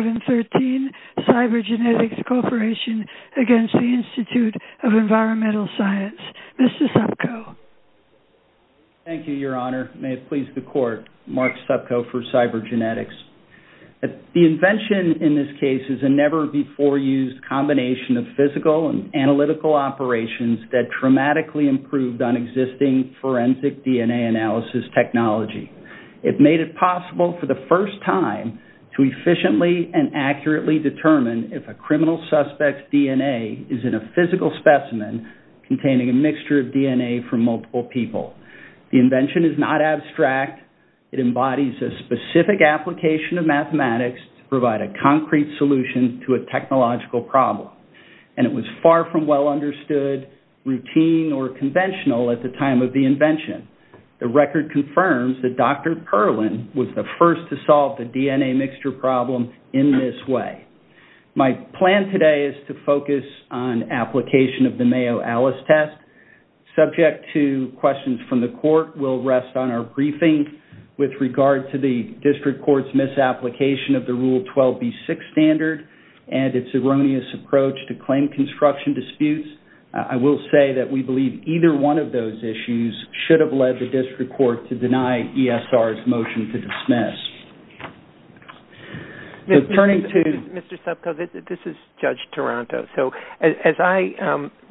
Mr. Subko. Thank you, Your Honor. May it please the Court, Mark Subko for Cybergenetics. The invention in this case is a never-before-used combination of physical and analytical operations that dramatically improved on existing forensic DNA analysis technology. It made it possible for the first time to efficiently and accurately determine if a criminal suspect's DNA is in a physical specimen containing a mixture of DNA from multiple people. The invention is not abstract. It embodies a specific application of mathematics to provide a concrete solution to a technological problem. And it was far from well understood, routine, or conventional at the time of the invention. The record confirms that Dr. Perlin was the first to solve the DNA mixture problem in this way. My plan today is to focus on application of the Mayo-Allis test. Subject to questions from the Court will rest on our briefing with regard to the District Court's misapplication of the Rule 12b6 standard and its erroneous approach to those issues should have led the District Court to deny ESR's motion to dismiss. Turning to Mr. Subko, this is Judge Taranto. As I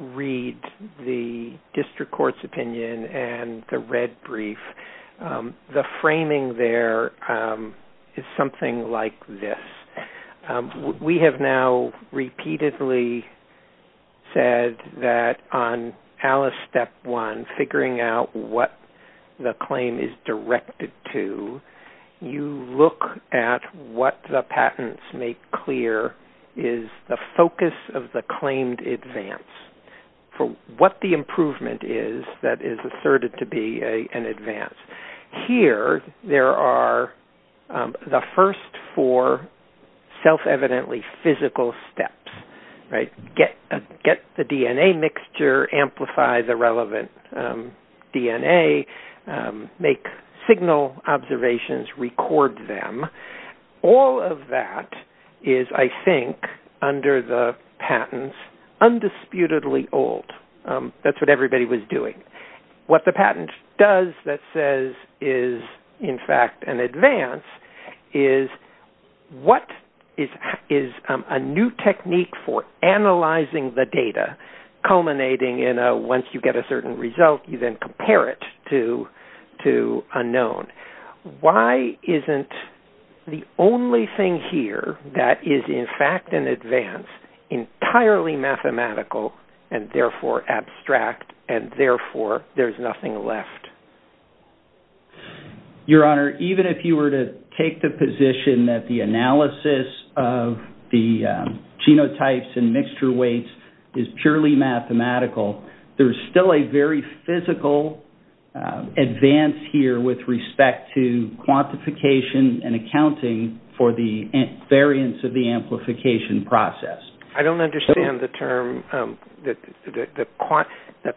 read the District Court's opinion and the red brief, the framing there is something like this. We have now repeatedly said that on Allis Step 1, figuring out what the claim is directed to, you look at what the patents make clear is the focus of the claimed advance. What the improvement is that is asserted to be an advance. Here, there are the first four self-evidently physical steps. Get the DNA mixture, amplify the relevant DNA, make signal observations, record them. All of that is, I think, under the patents, undisputedly old. That's what everybody was doing. What the patent does that says is, in fact, an advance is what is a new technique for analyzing the genome. Once you get a certain result, you then compare it to unknown. Why isn't the only thing here that is, in fact, an advance entirely mathematical and, therefore, abstract and, therefore, there's nothing left? Your Honor, even if you were to take the position that the analysis of the genotypes and mixture weights is purely mathematical, there's still a very physical advance here with respect to quantification and accounting for the variance of the amplification process. I don't understand the term, the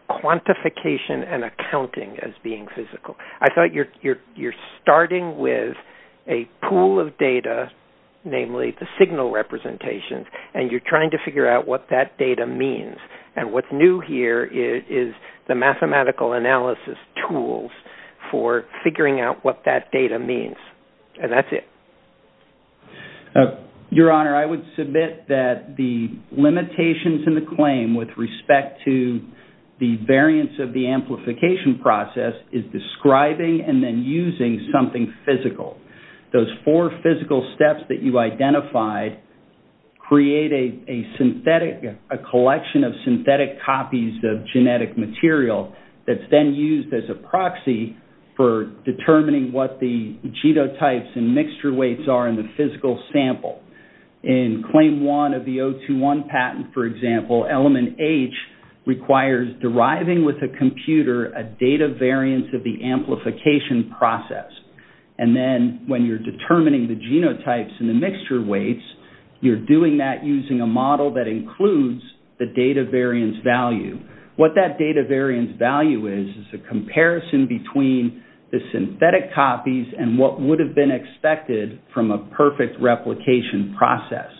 quantification and accounting as being physical. I thought you're starting with a pool of data, namely the signal representations, and you're trying to figure out what that data means. What's new here is the mathematical analysis tools for figuring out what that data means. That's it. Your Honor, I would submit that the limitations in the claim with respect to the variance of the amplification process is describing and then using something physical. Those four physical steps that you identified create a collection of synthetic copies of genetic material that's then used as a proxy for determining what the genotypes and mixture weights are in the physical sample. In claim one of the 021 patent, for example, element H requires deriving with a computer a data variance of the amplification process. Then when you're determining the genotypes and the mixture weights, you're doing that using a model that includes the data variance value. What that data variance value is is a comparison between the synthetic copies and what would have been expected from a perfect replication process.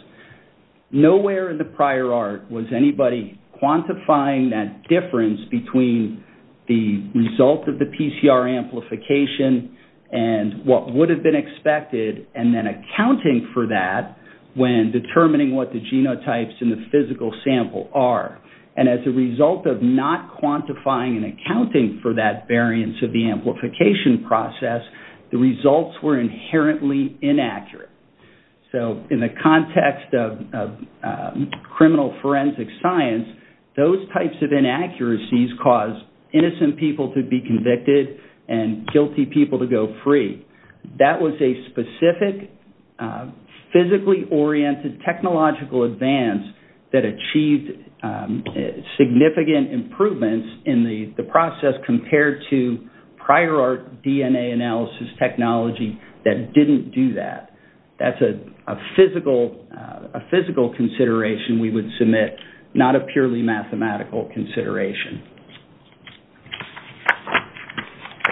Nowhere in the prior art was anybody quantifying that difference between the result of the PCR amplification and what would have been expected and then accounting for that when determining what the genotypes in the physical sample are. As a result of not quantifying and accounting for that variance of the amplification process, the results were inherently inaccurate. In the context of criminal forensic science, those types of inaccuracies cause innocent people to be convicted and guilty people to go free. That was a specific physically oriented technological advance that achieved significant improvements in the process compared to prior art DNA analysis technology that didn't do that. That's a physical consideration we would submit, not a purely mathematical consideration.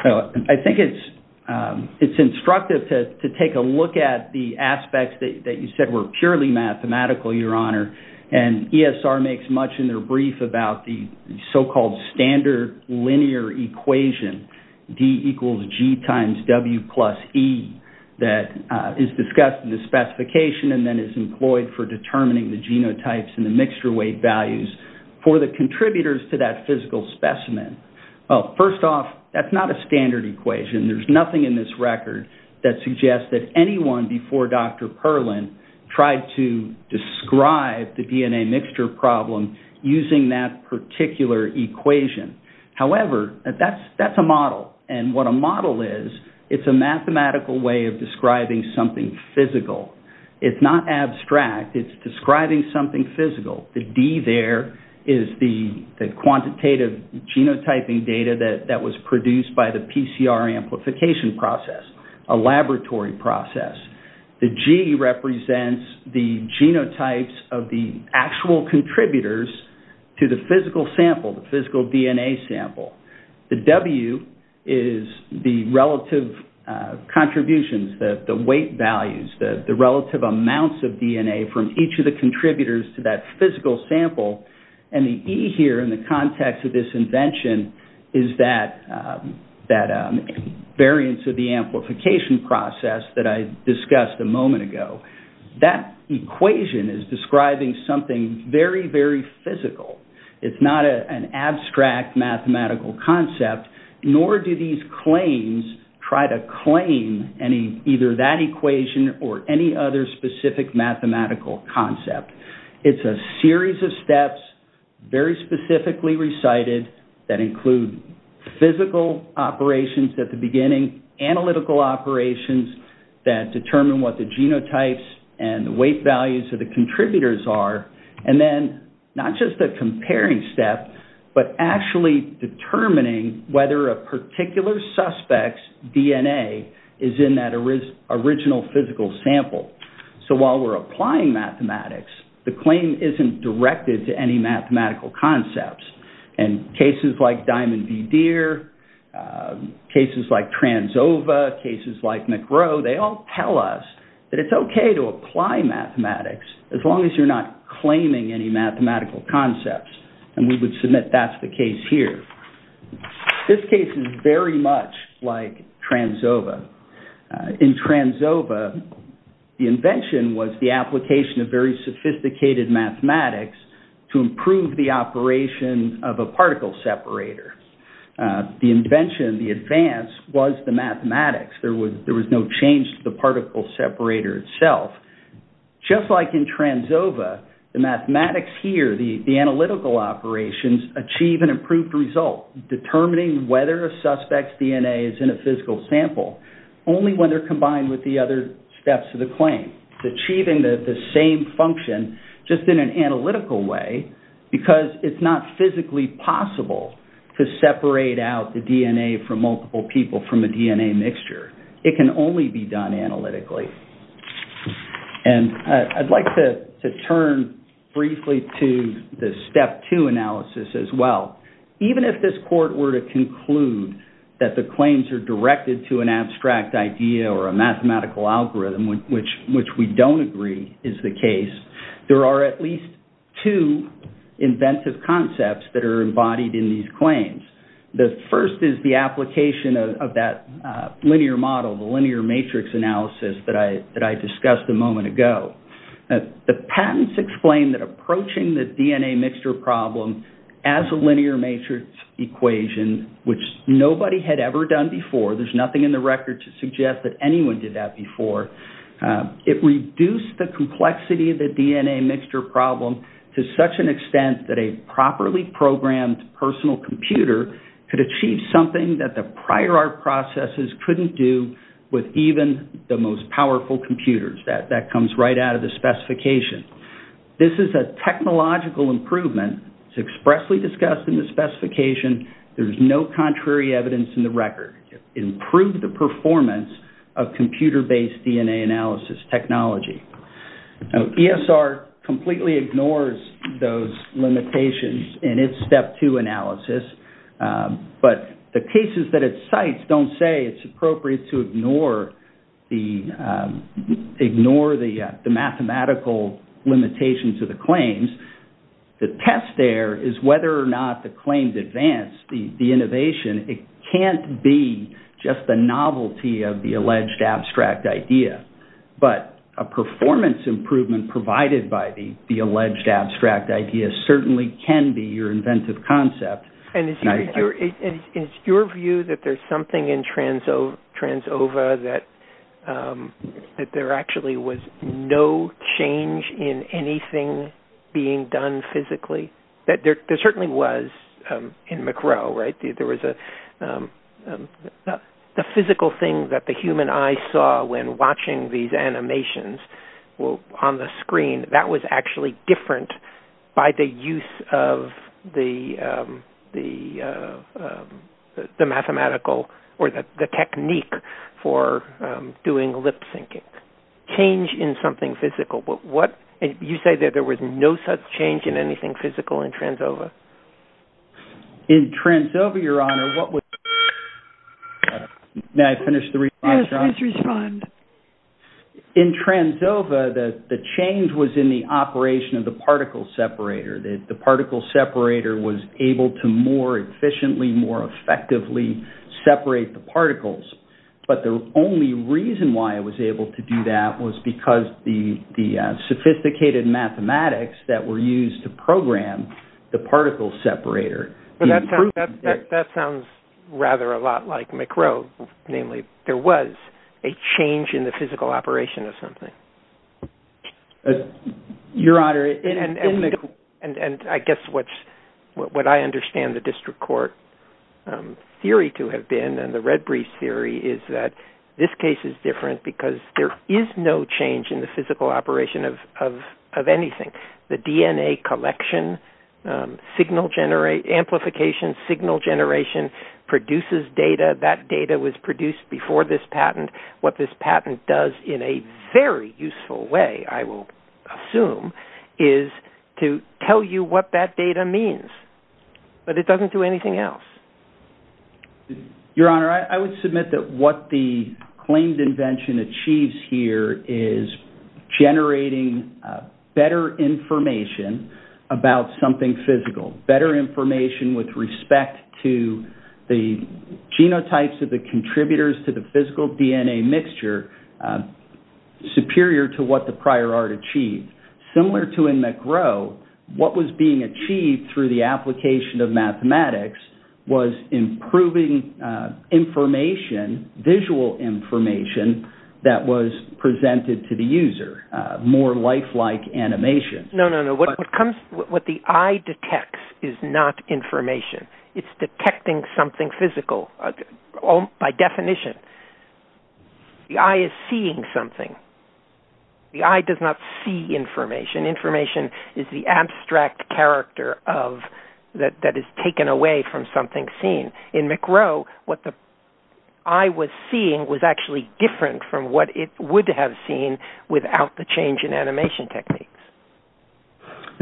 I think it's instructive to take a look at the aspects that you said were purely mathematical, Your Honor. ESR makes much in their brief about the so-called standard linear equation, D equals G times W plus E, that is discussed in the specification and then is employed for determining the genotypes and the mixture weight values for the contributors to that physical specimen. First off, that's not a standard equation. There's nothing in this record that suggests that anyone before Dr. Perlin tried to describe the DNA mixture problem using that particular equation. However, that's a model. What a model is, it's a mathematical way of describing something physical. It's not abstract. It's describing something physical. The D there is the quantitative genotyping data that was produced by the PCR amplification process, a laboratory process. The G represents the genotypes of the actual contributors to the physical sample, the physical DNA sample. The W is the relative contributions, the weight values, the relative amounts of DNA from each of the contributors to that physical sample. And the E here in the context of this invention is that variance of the amplification process that I discussed a moment ago, that equation is describing something very, very physical. It's not an abstract mathematical concept, nor do these claims try to claim either that equation or any other specific mathematical concept. It's a series of steps, very specifically recited, that include physical operations at the beginning, analytical operations that determine what the genotypes and the weight values of the contributors are, and then not just a comparing step, but actually determining whether a particular suspect's DNA is in that original physical sample. So while we're applying mathematics, the claim isn't directed to any particular case. And cases like Diamond v. Deere, cases like TransOva, cases like McRow, they all tell us that it's okay to apply mathematics, as long as you're not claiming any mathematical concepts. And we would submit that's the case here. This case is very much like TransOva. In TransOva, the invention was the application of very a particle separator. The invention, the advance, was the mathematics. There was no change to the particle separator itself. Just like in TransOva, the mathematics here, the analytical operations, achieve an improved result, determining whether a suspect's DNA is in a physical sample, only when they're combined with the other steps of the claim, achieving the same function just in an analytical way, because it's not physically possible to separate out the DNA from multiple people from a DNA mixture. It can only be done analytically. And I'd like to turn briefly to the step two analysis as well. Even if this court were to conclude that the claims are directed to an abstract idea or a mathematical algorithm, which we don't agree is the case, there are at least two inventive concepts that are embodied in these claims. The first is the application of that linear model, the linear matrix analysis that I discussed a moment ago. The patents explain that approaching the DNA mixture problem as a linear matrix equation, which nobody had ever done before, there's nothing in the record to suggest that anyone did that before, it reduced the complexity of the DNA mixture problem to such an extent that a properly programmed personal computer could achieve something that the prior art processes couldn't do with even the most powerful computers. That comes right out of the specification. This is a technological improvement. It's expressly discussed in the specification. There's no contrary evidence in the record. It improved the performance of computer-based DNA analysis technology. ESR completely ignores those limitations in its step two analysis, but the cases that it cites don't say it's appropriate to ignore the mathematical limitations of the claims. The test there is whether or not the claims advance the innovation. It can't be just the novelty of the alleged abstract idea, but a performance improvement provided by the alleged abstract idea certainly can be your inventive concept. Is your view that there's something in TransOva that there actually was no change in anything being done physically? There certainly was in McRow. The physical thing that the human eye saw when watching these animations on the screen, that was actually different by the use of the mathematical or the technique for doing lip syncing. Change in something physical, there was no such change in anything physical in TransOva. In TransOva, the change was in the operation of the particle separator. The particle separator was able to more efficiently, more effectively separate the particles, but the only reason why it was able to do that was because the sophisticated mathematics that were used to program the particle separator. That sounds rather a lot like McRow. Namely, there was a change in the physical operation of something. And I guess what I understand the district court theory to have been and the Redbreeze theory is that this case is different because there is no change in the physical operation of anything. The DNA collection, signal generation, amplification signal generation produces data. That data was produced before this patent. What this patent does in a very useful way, I will assume, is to tell you what that data means, but it doesn't do anything else. Your Honor, I would submit that what the claimed invention achieves here is generating better information about something physical. Better information with respect to the genotypes of the contributors to the physical DNA mixture superior to what the prior art achieved. Similar to in McRow, what was being achieved through the application of mathematics was improving information, visual information, that was presented to the user. More lifelike animation. No, no, no. What the eye detects is not information. It's detecting something physical by definition. The eye is seeing something. The eye does not see information. Information is the abstract character that is taken away from something seen. In McRow, what the eye was seeing was actually different from what it would have seen without the change in animation techniques.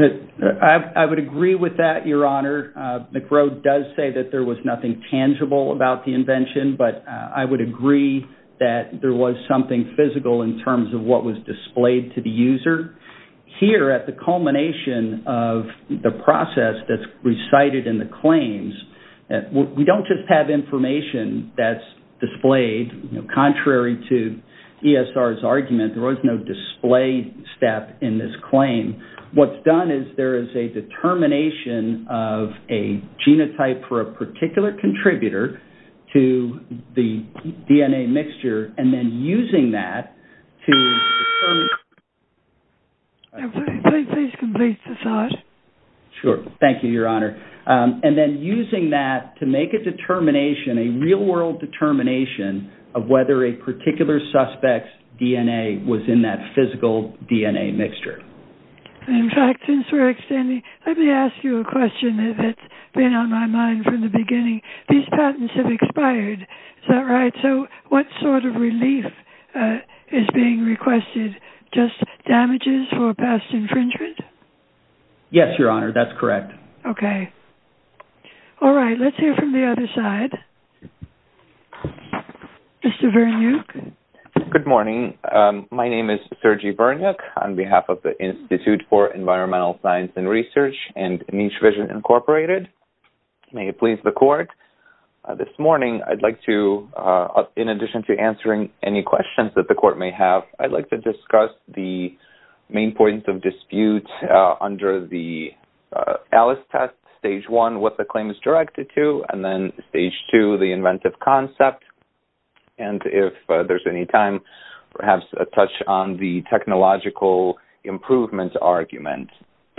I would agree with that, Your Honor. McRow does say that there was nothing tangible about the invention, but I would agree that there was something physical in terms of what was displayed to the user. Here at the culmination of the process that's recited in the claims, we don't just have information that's displayed. Contrary to ESR's argument, there was no display step in this claim. What's done is there is a determination of a genotype for a particular contributor to the DNA mixture, and then using that to make a determination, a real-world determination of whether a particular suspect's DNA was in that physical DNA mixture. In fact, since we're extending, let me ask you a question that's been on my mind from the beginning. I'm tired. Is that right? What sort of relief is being requested? Just damages for past infringement? Yes, Your Honor. That's correct. Okay. All right. Let's hear from the other side. Mr. Vernuk. Good morning. My name is Sergi Vernuk on behalf of the Institute for Environmental Science and Research and Niche Vision Incorporated. May it please the Court, this morning I'd like to, in addition to answering any questions that the Court may have, I'd like to discuss the main points of dispute under the ALICE test, Stage 1, what the claim is directed to, and then Stage 2, the inventive concept, and if there's any time, perhaps a touch on the technological improvement argument.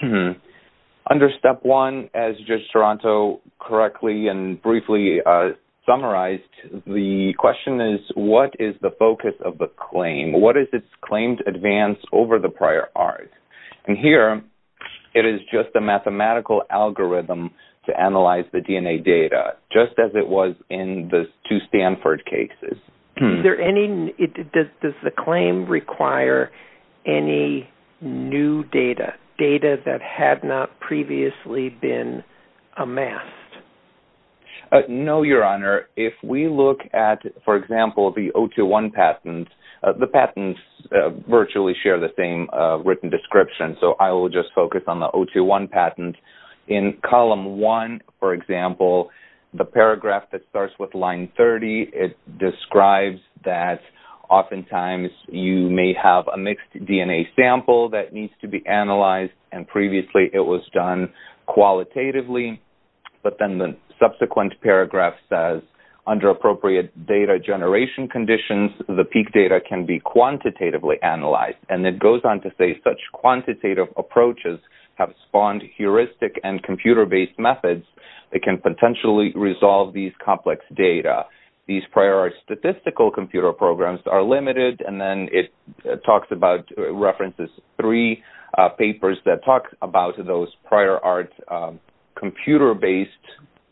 Under Step 1, as Judge Toronto correctly and briefly summarized, the question is, what is the focus of the claim? What is its claim to advance over the prior art? And here, it is just a mathematical algorithm to analyze the DNA data, just as it was in the two Stanford cases. Does the claim require any new data, data that had not previously been amassed? No, Your Honor. If we look at, for example, the O2-1 patent, the patents virtually share the same written description, so I will just focus on the O2-1 patent. In Column 1, for example, it describes that oftentimes you may have a mixed DNA sample that needs to be analyzed, and previously it was done qualitatively, but then the subsequent paragraph says, under appropriate data generation conditions, the peak data can be quantitatively analyzed. And it goes on to say, such quantitative approaches have spawned heuristic and computer-based methods that can potentially resolve these complex data. These prior art statistical computer programs are limited, and then it talks about, references three papers that talk about those prior art computer-based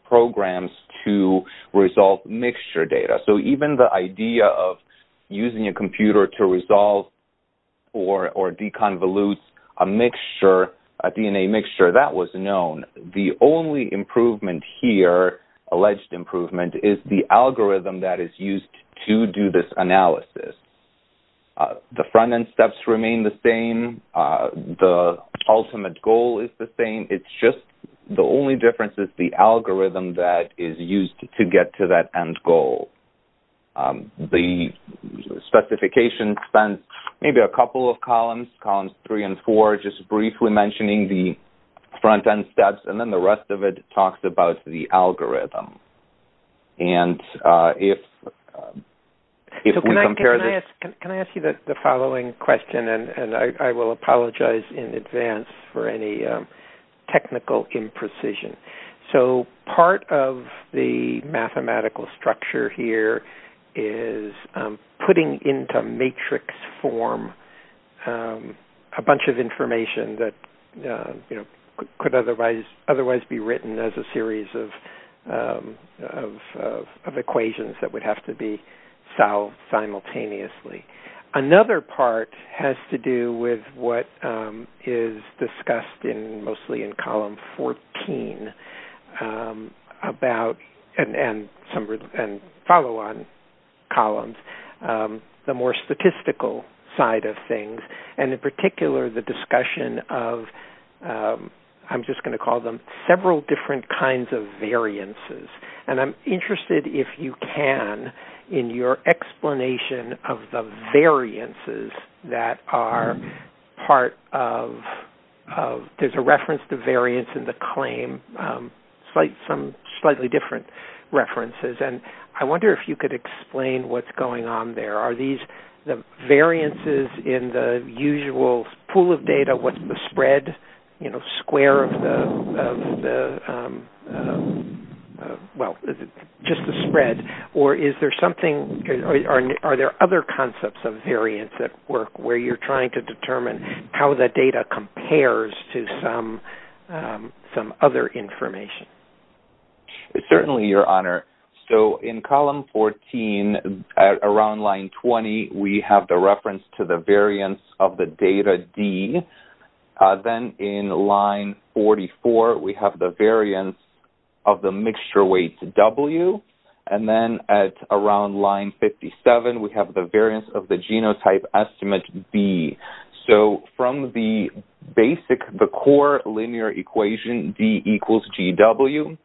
programs to resolve mixture data. So even the idea of using a computer to resolve or deconvolute a mixture, a DNA mixture, that was known. The only improvement here, alleged improvement, is the algorithm that is used to do this analysis. The front-end steps remain the same. The ultimate goal is the same. It's just the only difference is the algorithm that is used to get to that end goal. The specification spans maybe a couple of columns, Columns 3 and 4, just briefly mentioning the front-end steps, and then the rest of it talks about the algorithm. And if we compare the- Can I ask you the following question, and I will apologize in advance for any technical imprecision. So part of the mathematical structure here is putting into matrix form a bunch of equations that could otherwise be written as a series of equations that would have to be solved simultaneously. Another part has to do with what is discussed mostly in Column 14, and some follow-on columns, the more statistical side of things, and in particular, the discussion of-I'm just going to call them several different kinds of variances. And I'm interested, if you can, in your explanation of the variances that are part of-there's a reference to variance in the claim, some slightly different references. And I wonder if you could explain what's going on there. Are these the variances in the usual pool of data? What's the spread, you know, square of the-well, just the spread? Or is there something-are there other concepts of variance that work where you're trying to determine how the data compares to some other information? Certainly, Your Honor. So in Column 14, around line 20, we have the reference to the variance of the data, D. Then in line 44, we have the variance of the mixture weight, W. And then at around line 57, we have the variance of the genotype estimate, B. So from the basic, the core linear equation, D equals GW,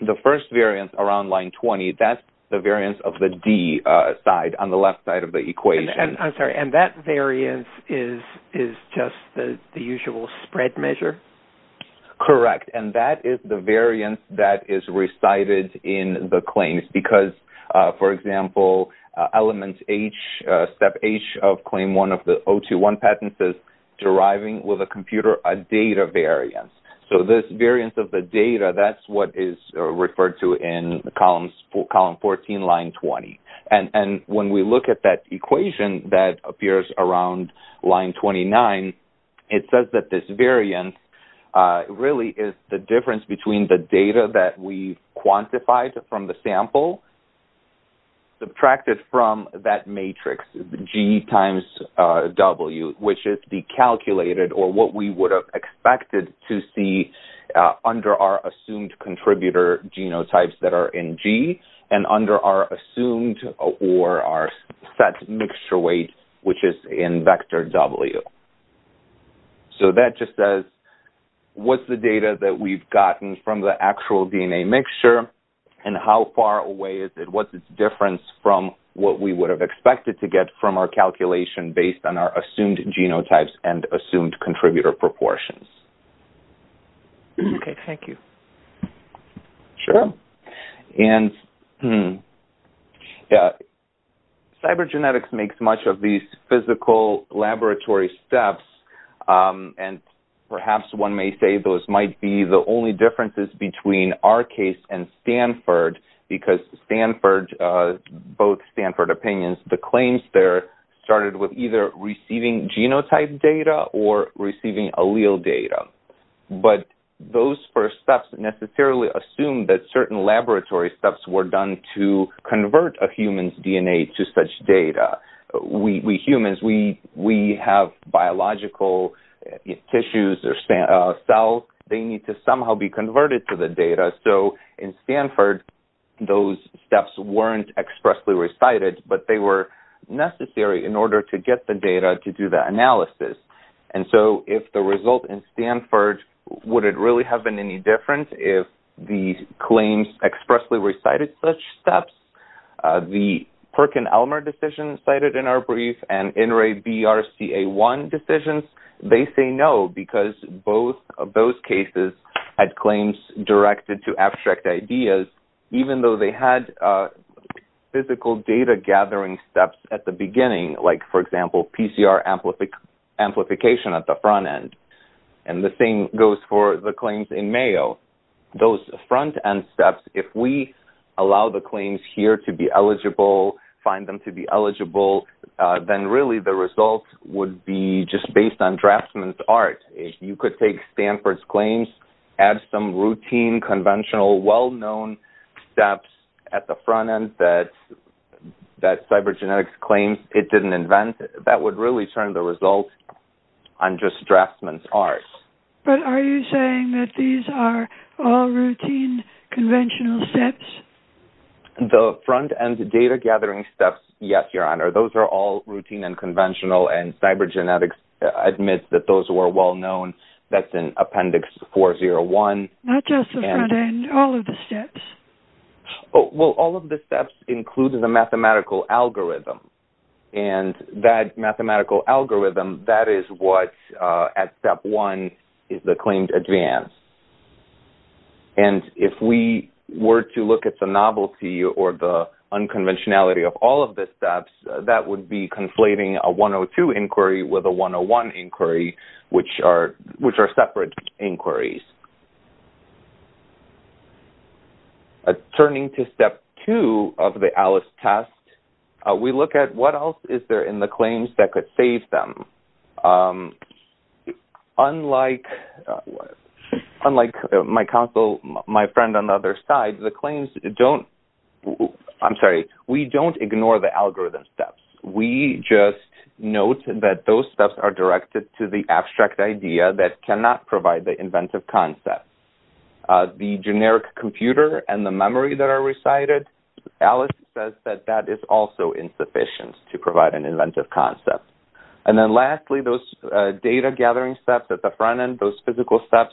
the first variance around line 20, that's the variance of the D side on the left side of the equation. I'm sorry. And that variance is just the usual spread measure? Correct. And that is the variance that is recited in the claims. Because, for example, Element H, Step H of Claim 1 of the 021 Patent says, deriving with a computer a data variance. So this variance of the data, that's what is referred to in Column 14, line 20. And when we look at that equation that appears around line 29, it says that this variance really is the difference between the data that we quantified from the sample, subtracted from that matrix, G times W, which is the calculated or what we would have expected to see under our assumed contributor genotypes that are in G, and under our assumed or our set mixture weight, which is in vector W. So that just says, what's the data that we've gotten from the actual DNA mixture, and how far away is it? What's its difference from what we would have expected to get from our calculation based on our assumed genotypes and assumed contributor proportions? Okay. Thank you. Sure. And cybergenetics makes much of these physical laboratory steps, and perhaps one may say those might be the only differences between our case and Stanford, because Stanford, both Stanford opinions, the claims there started with either receiving genotype data or receiving allele data. But those first steps necessarily assumed that certain laboratory steps were done to convert a human's DNA to such data. We humans, we have biological tissues or cells, they need to somehow be converted to the data. So in Stanford, those steps weren't expressly recited, but they were necessary in order to get the data to do the analysis. And so if the result in Stanford, would it really have been any different if the claims expressly recited such steps? The Perkin-Elmer decision cited in our brief and NREBRCA1 decisions, they say no, because both of those cases had claims directed to abstract ideas, even though they had physical data gathering steps at the beginning, like for example, PCR amplification at the front end. And the same goes for the claims in Mayo. Those front end steps, if we allow the claims here to be eligible, find them to be eligible, then really the result would be just based on draftsman's art. You could take Stanford's claims, add some routine, conventional, well-known steps at the front end that cybergenetics claims it didn't invent, that would really turn the result on just draftsman's art. But are you saying that these are all routine, conventional steps? The front end data gathering steps, yes, Your Honor. Those are all routine and conventional, and cybergenetics admits that those were well-known. That's in Appendix 401. Not just the front end, all of the steps? Well, all of the steps include the mathematical algorithm, and that mathematical algorithm, that is what at Step 1 is the claimed advance. And if we were to look at the novelty or the unconventionality of all of the steps, that would be conflating a 102 inquiry with a 101 inquiry, which are separate inquiries. Turning to Step 2 of the ALICE test, we look at what else is there in the claims that could save them. Unlike my counsel, my friend on the other side, the claims don't, I'm sorry, we don't ignore the algorithm steps. We just note that those steps are directed to the abstract idea that cannot provide the inventive concept. The generic computer and the memory that are recited, ALICE says that that is also insufficient to provide an inventive concept. And then lastly, those data gathering steps at the front end, those physical steps,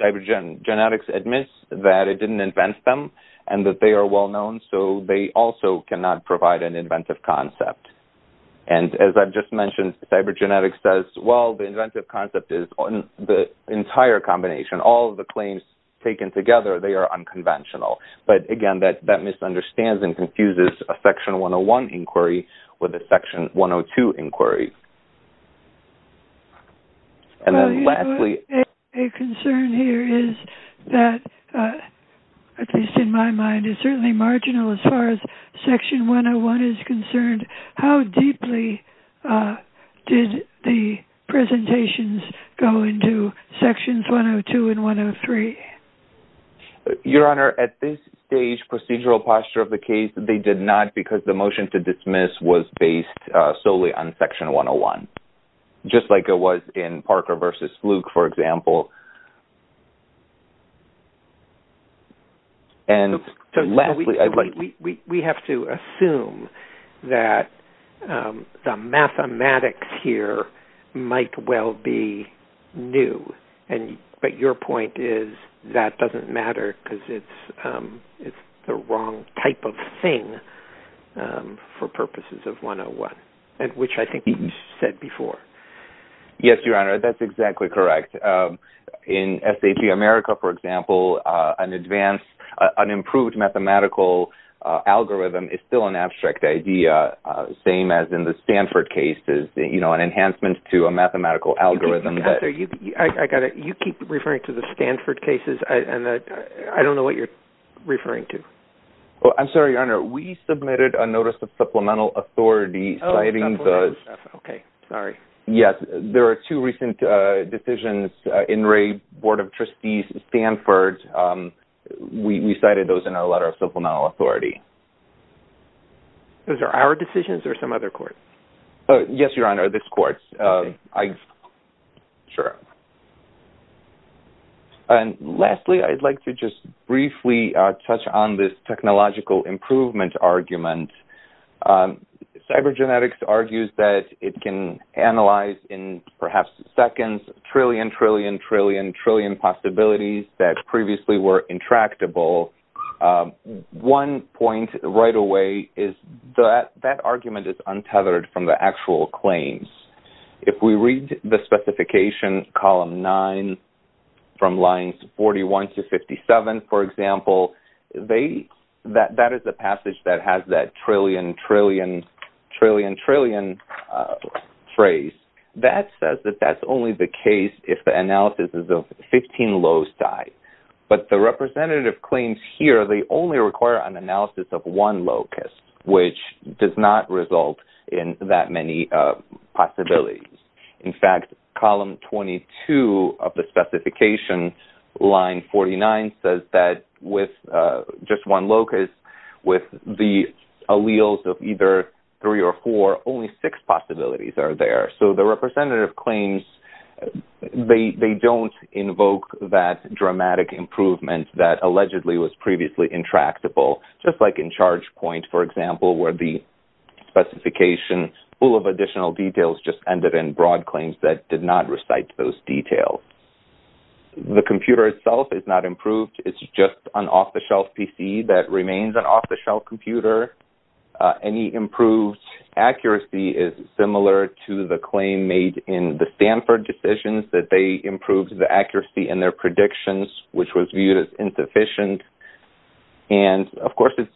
cybergenetics admits that it didn't invent them and that they are well-known, so they also cannot provide an inventive concept. And as I've just mentioned, cybergenetics says, well, the inventive concept is the entire combination. All of the claims taken together, they are unconventional. But again, that misunderstands and confuses a Section 101 inquiry with a Section 102 inquiry. And then lastly... A concern here is that, at least in my mind, it's certainly marginal as far as Section 103. Did the presentations go into Sections 102 and 103? Your Honor, at this stage, procedural posture of the case, they did not because the motion to dismiss was based solely on Section 101, just like it was in Parker v. Luke, for example. So, we have to assume that the mathematics here might well be new, but your point is that doesn't matter because it's the wrong type of thing for purposes of 101, which I think you said before. Yes, Your Honor, that's exactly correct. In SAT America, for example, an advanced, an improved mathematical algorithm is still an abstract idea, same as in the Stanford case is an enhancement to a mathematical algorithm. You keep referring to the Stanford cases, and I don't know what you're referring to. Well, I'm sorry, Your Honor. We submitted a notice of supplemental authority citing those. Okay. Sorry. Yes. There are two recent decisions in Ray Board of Trustees' Stanford. We cited those in our letter of supplemental authority. Those are our decisions or some other court? Yes, Your Honor, this court. Okay. Sure. And lastly, I'd like to just briefly touch on this technological improvement argument. Cybergenetics argues that it can analyze in perhaps seconds trillion, trillion, trillion, trillion possibilities that previously were intractable. One point right away is that argument is untethered from the actual claims. If we read the specification column nine from lines 41 to 57, for example, that is the passage that has that trillion, trillion, trillion, trillion phrase. That says that that's only the case if the analysis is of 15 loci. But the representative claims here, they only require an analysis of one locus, which does not result in that many possibilities. In fact, column 22 of the specification, line 49, says that with just one locus, with the alleles of either three or four, only six possibilities are there. So the representative claims, they don't invoke that dramatic improvement that allegedly was previously intractable, just like in ChargePoint, for example, where the specification full of additional details just ended in broad claims that did not recite those details. The computer itself is not improved. It's just an off-the-shelf PC that remains an off-the-shelf computer. Any improved accuracy is similar to the claim made in the Stanford decisions that they improved the accuracy in their predictions, which was viewed as insufficient. And of course, it's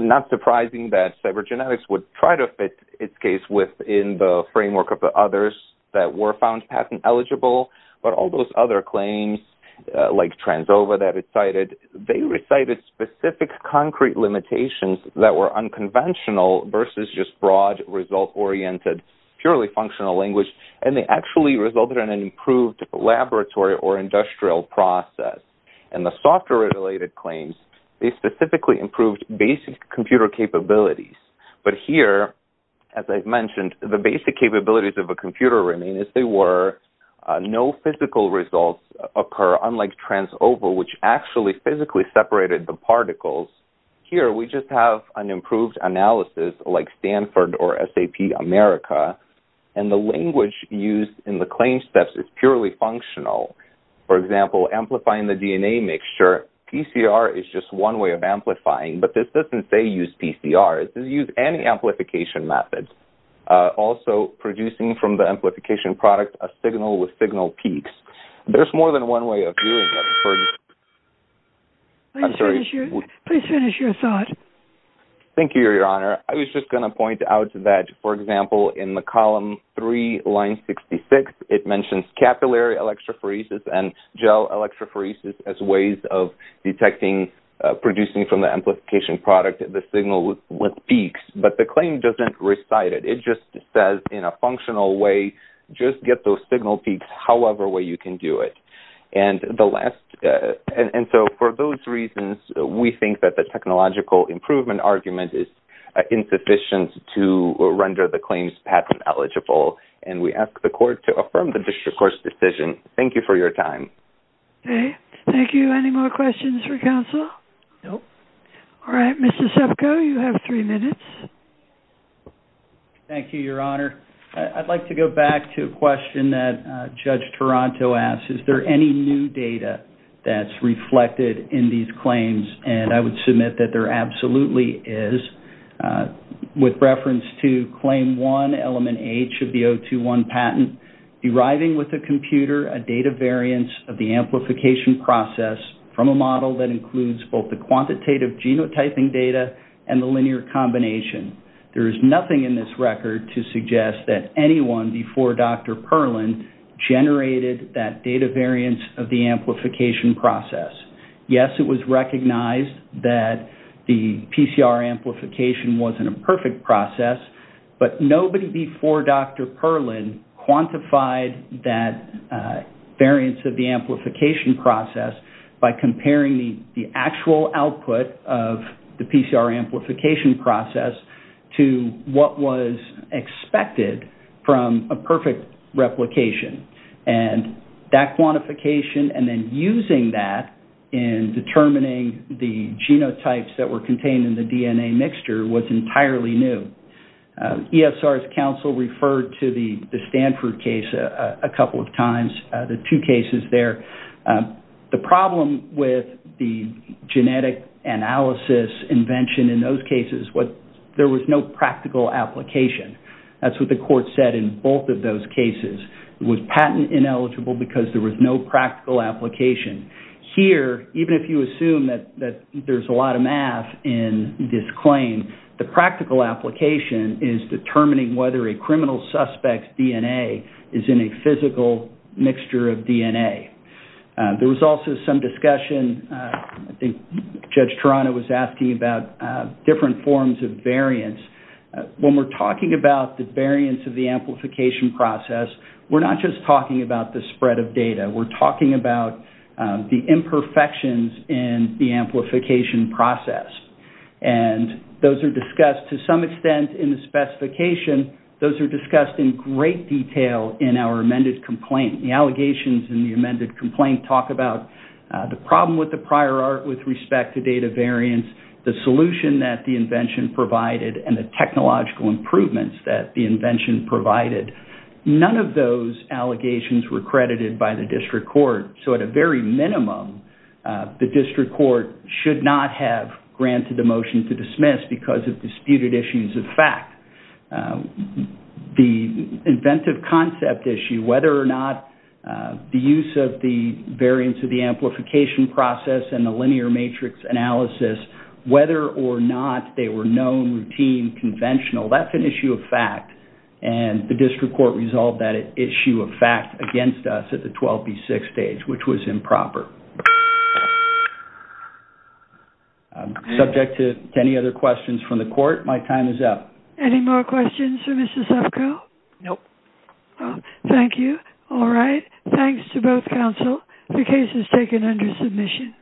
not surprising that cybergenetics would try to fit its case within the framework of the others that were found patent-eligible. But all those other claims, like TransOva that it cited, they recited specific concrete limitations that were unconventional versus just broad, result-oriented, purely functional language. And they actually resulted in an improved laboratory or industrial process. In the software-related claims, they specifically improved basic computer capabilities. But here, as I mentioned, the basic capabilities of a computer remain as they were. No physical results occur, unlike TransOva, which actually physically separated the particles. Here, we just have an improved analysis, like Stanford or SAP America, and the language used in the PCR is just one way of amplifying. But this doesn't say use PCR. It says use any amplification methods. Also, producing from the amplification product a signal with signal peaks. There's more than one way of doing that. I'm sorry. Please finish your thought. Thank you, Your Honor. I was just going to point out that, for example, in the column 3, line 66, it mentions capillary electrophoresis and gel electrophoresis as ways of detecting producing from the amplification product the signal with peaks. But the claim doesn't recite it. It just says, in a functional way, just get those signal peaks however way you can do it. And so, for those reasons, we think that the technological improvement argument is insufficient to render the claims patent eligible. And we ask the court to affirm the district court's decision. Thank you for your time. Okay. Thank you. Any more questions for counsel? No. All right. Mr. Sepko, you have three minutes. Thank you, Your Honor. I'd like to go back to a question that Judge Toronto asked. Is there any new data that's reflected in these claims? And I would submit that there absolutely is, with reference to Claim 1, Element H of the 021 patent, deriving with the computer a data variance of the amplification process from a model that includes both the quantitative genotyping data and the linear combination. There is nothing in this record to suggest that anyone before Dr. Perlin generated that data variance of the amplification process. Yes, it was recognized that the PCR amplification wasn't a perfect process, but nobody before Dr. Perlin quantified that variance of the amplification process by comparing the actual output of the PCR amplification process to what was expected from a perfect replication. And that quantification and then using that in determining the genotypes that were contained in the DNA mixture was entirely new. ESR's counsel referred to the Stanford case a couple of times, the two cases there. The problem with the genetic analysis invention in those cases was there was no practical application. That's what the court said in both of those cases. It was patent ineligible because there was no practical application. Here, even if you assume that there's a lot of math in this claim, the practical application is determining whether a criminal suspect's DNA is in a physical mixture of DNA. There was also some discussion, I think Judge Toronto was asking about different forms of variance of the amplification process. We're not just talking about the spread of data. We're talking about the imperfections in the amplification process. And those are discussed to some extent in the specification. Those are discussed in great detail in our amended complaint. The allegations in the amended complaint talk about the problem with the prior art with respect to data variance, the solution that the invention provided, and the technological improvements that the invention provided. None of those allegations were credited by the district court. So at a very minimum, the district court should not have granted a motion to dismiss because of disputed issues of fact. The inventive concept issue, whether or not the use of the variance of the amplification process and the linear matrix analysis, whether or not they were known, routine, conventional, that's an issue of fact. And the district court resolved that issue of fact against us at the 12B6 stage, which was improper. I'm subject to any other questions from the court. My time is up. Any more questions for Mr. Suffco? No. Thank you. All right. Thanks to both counsel. The case is taken under submission.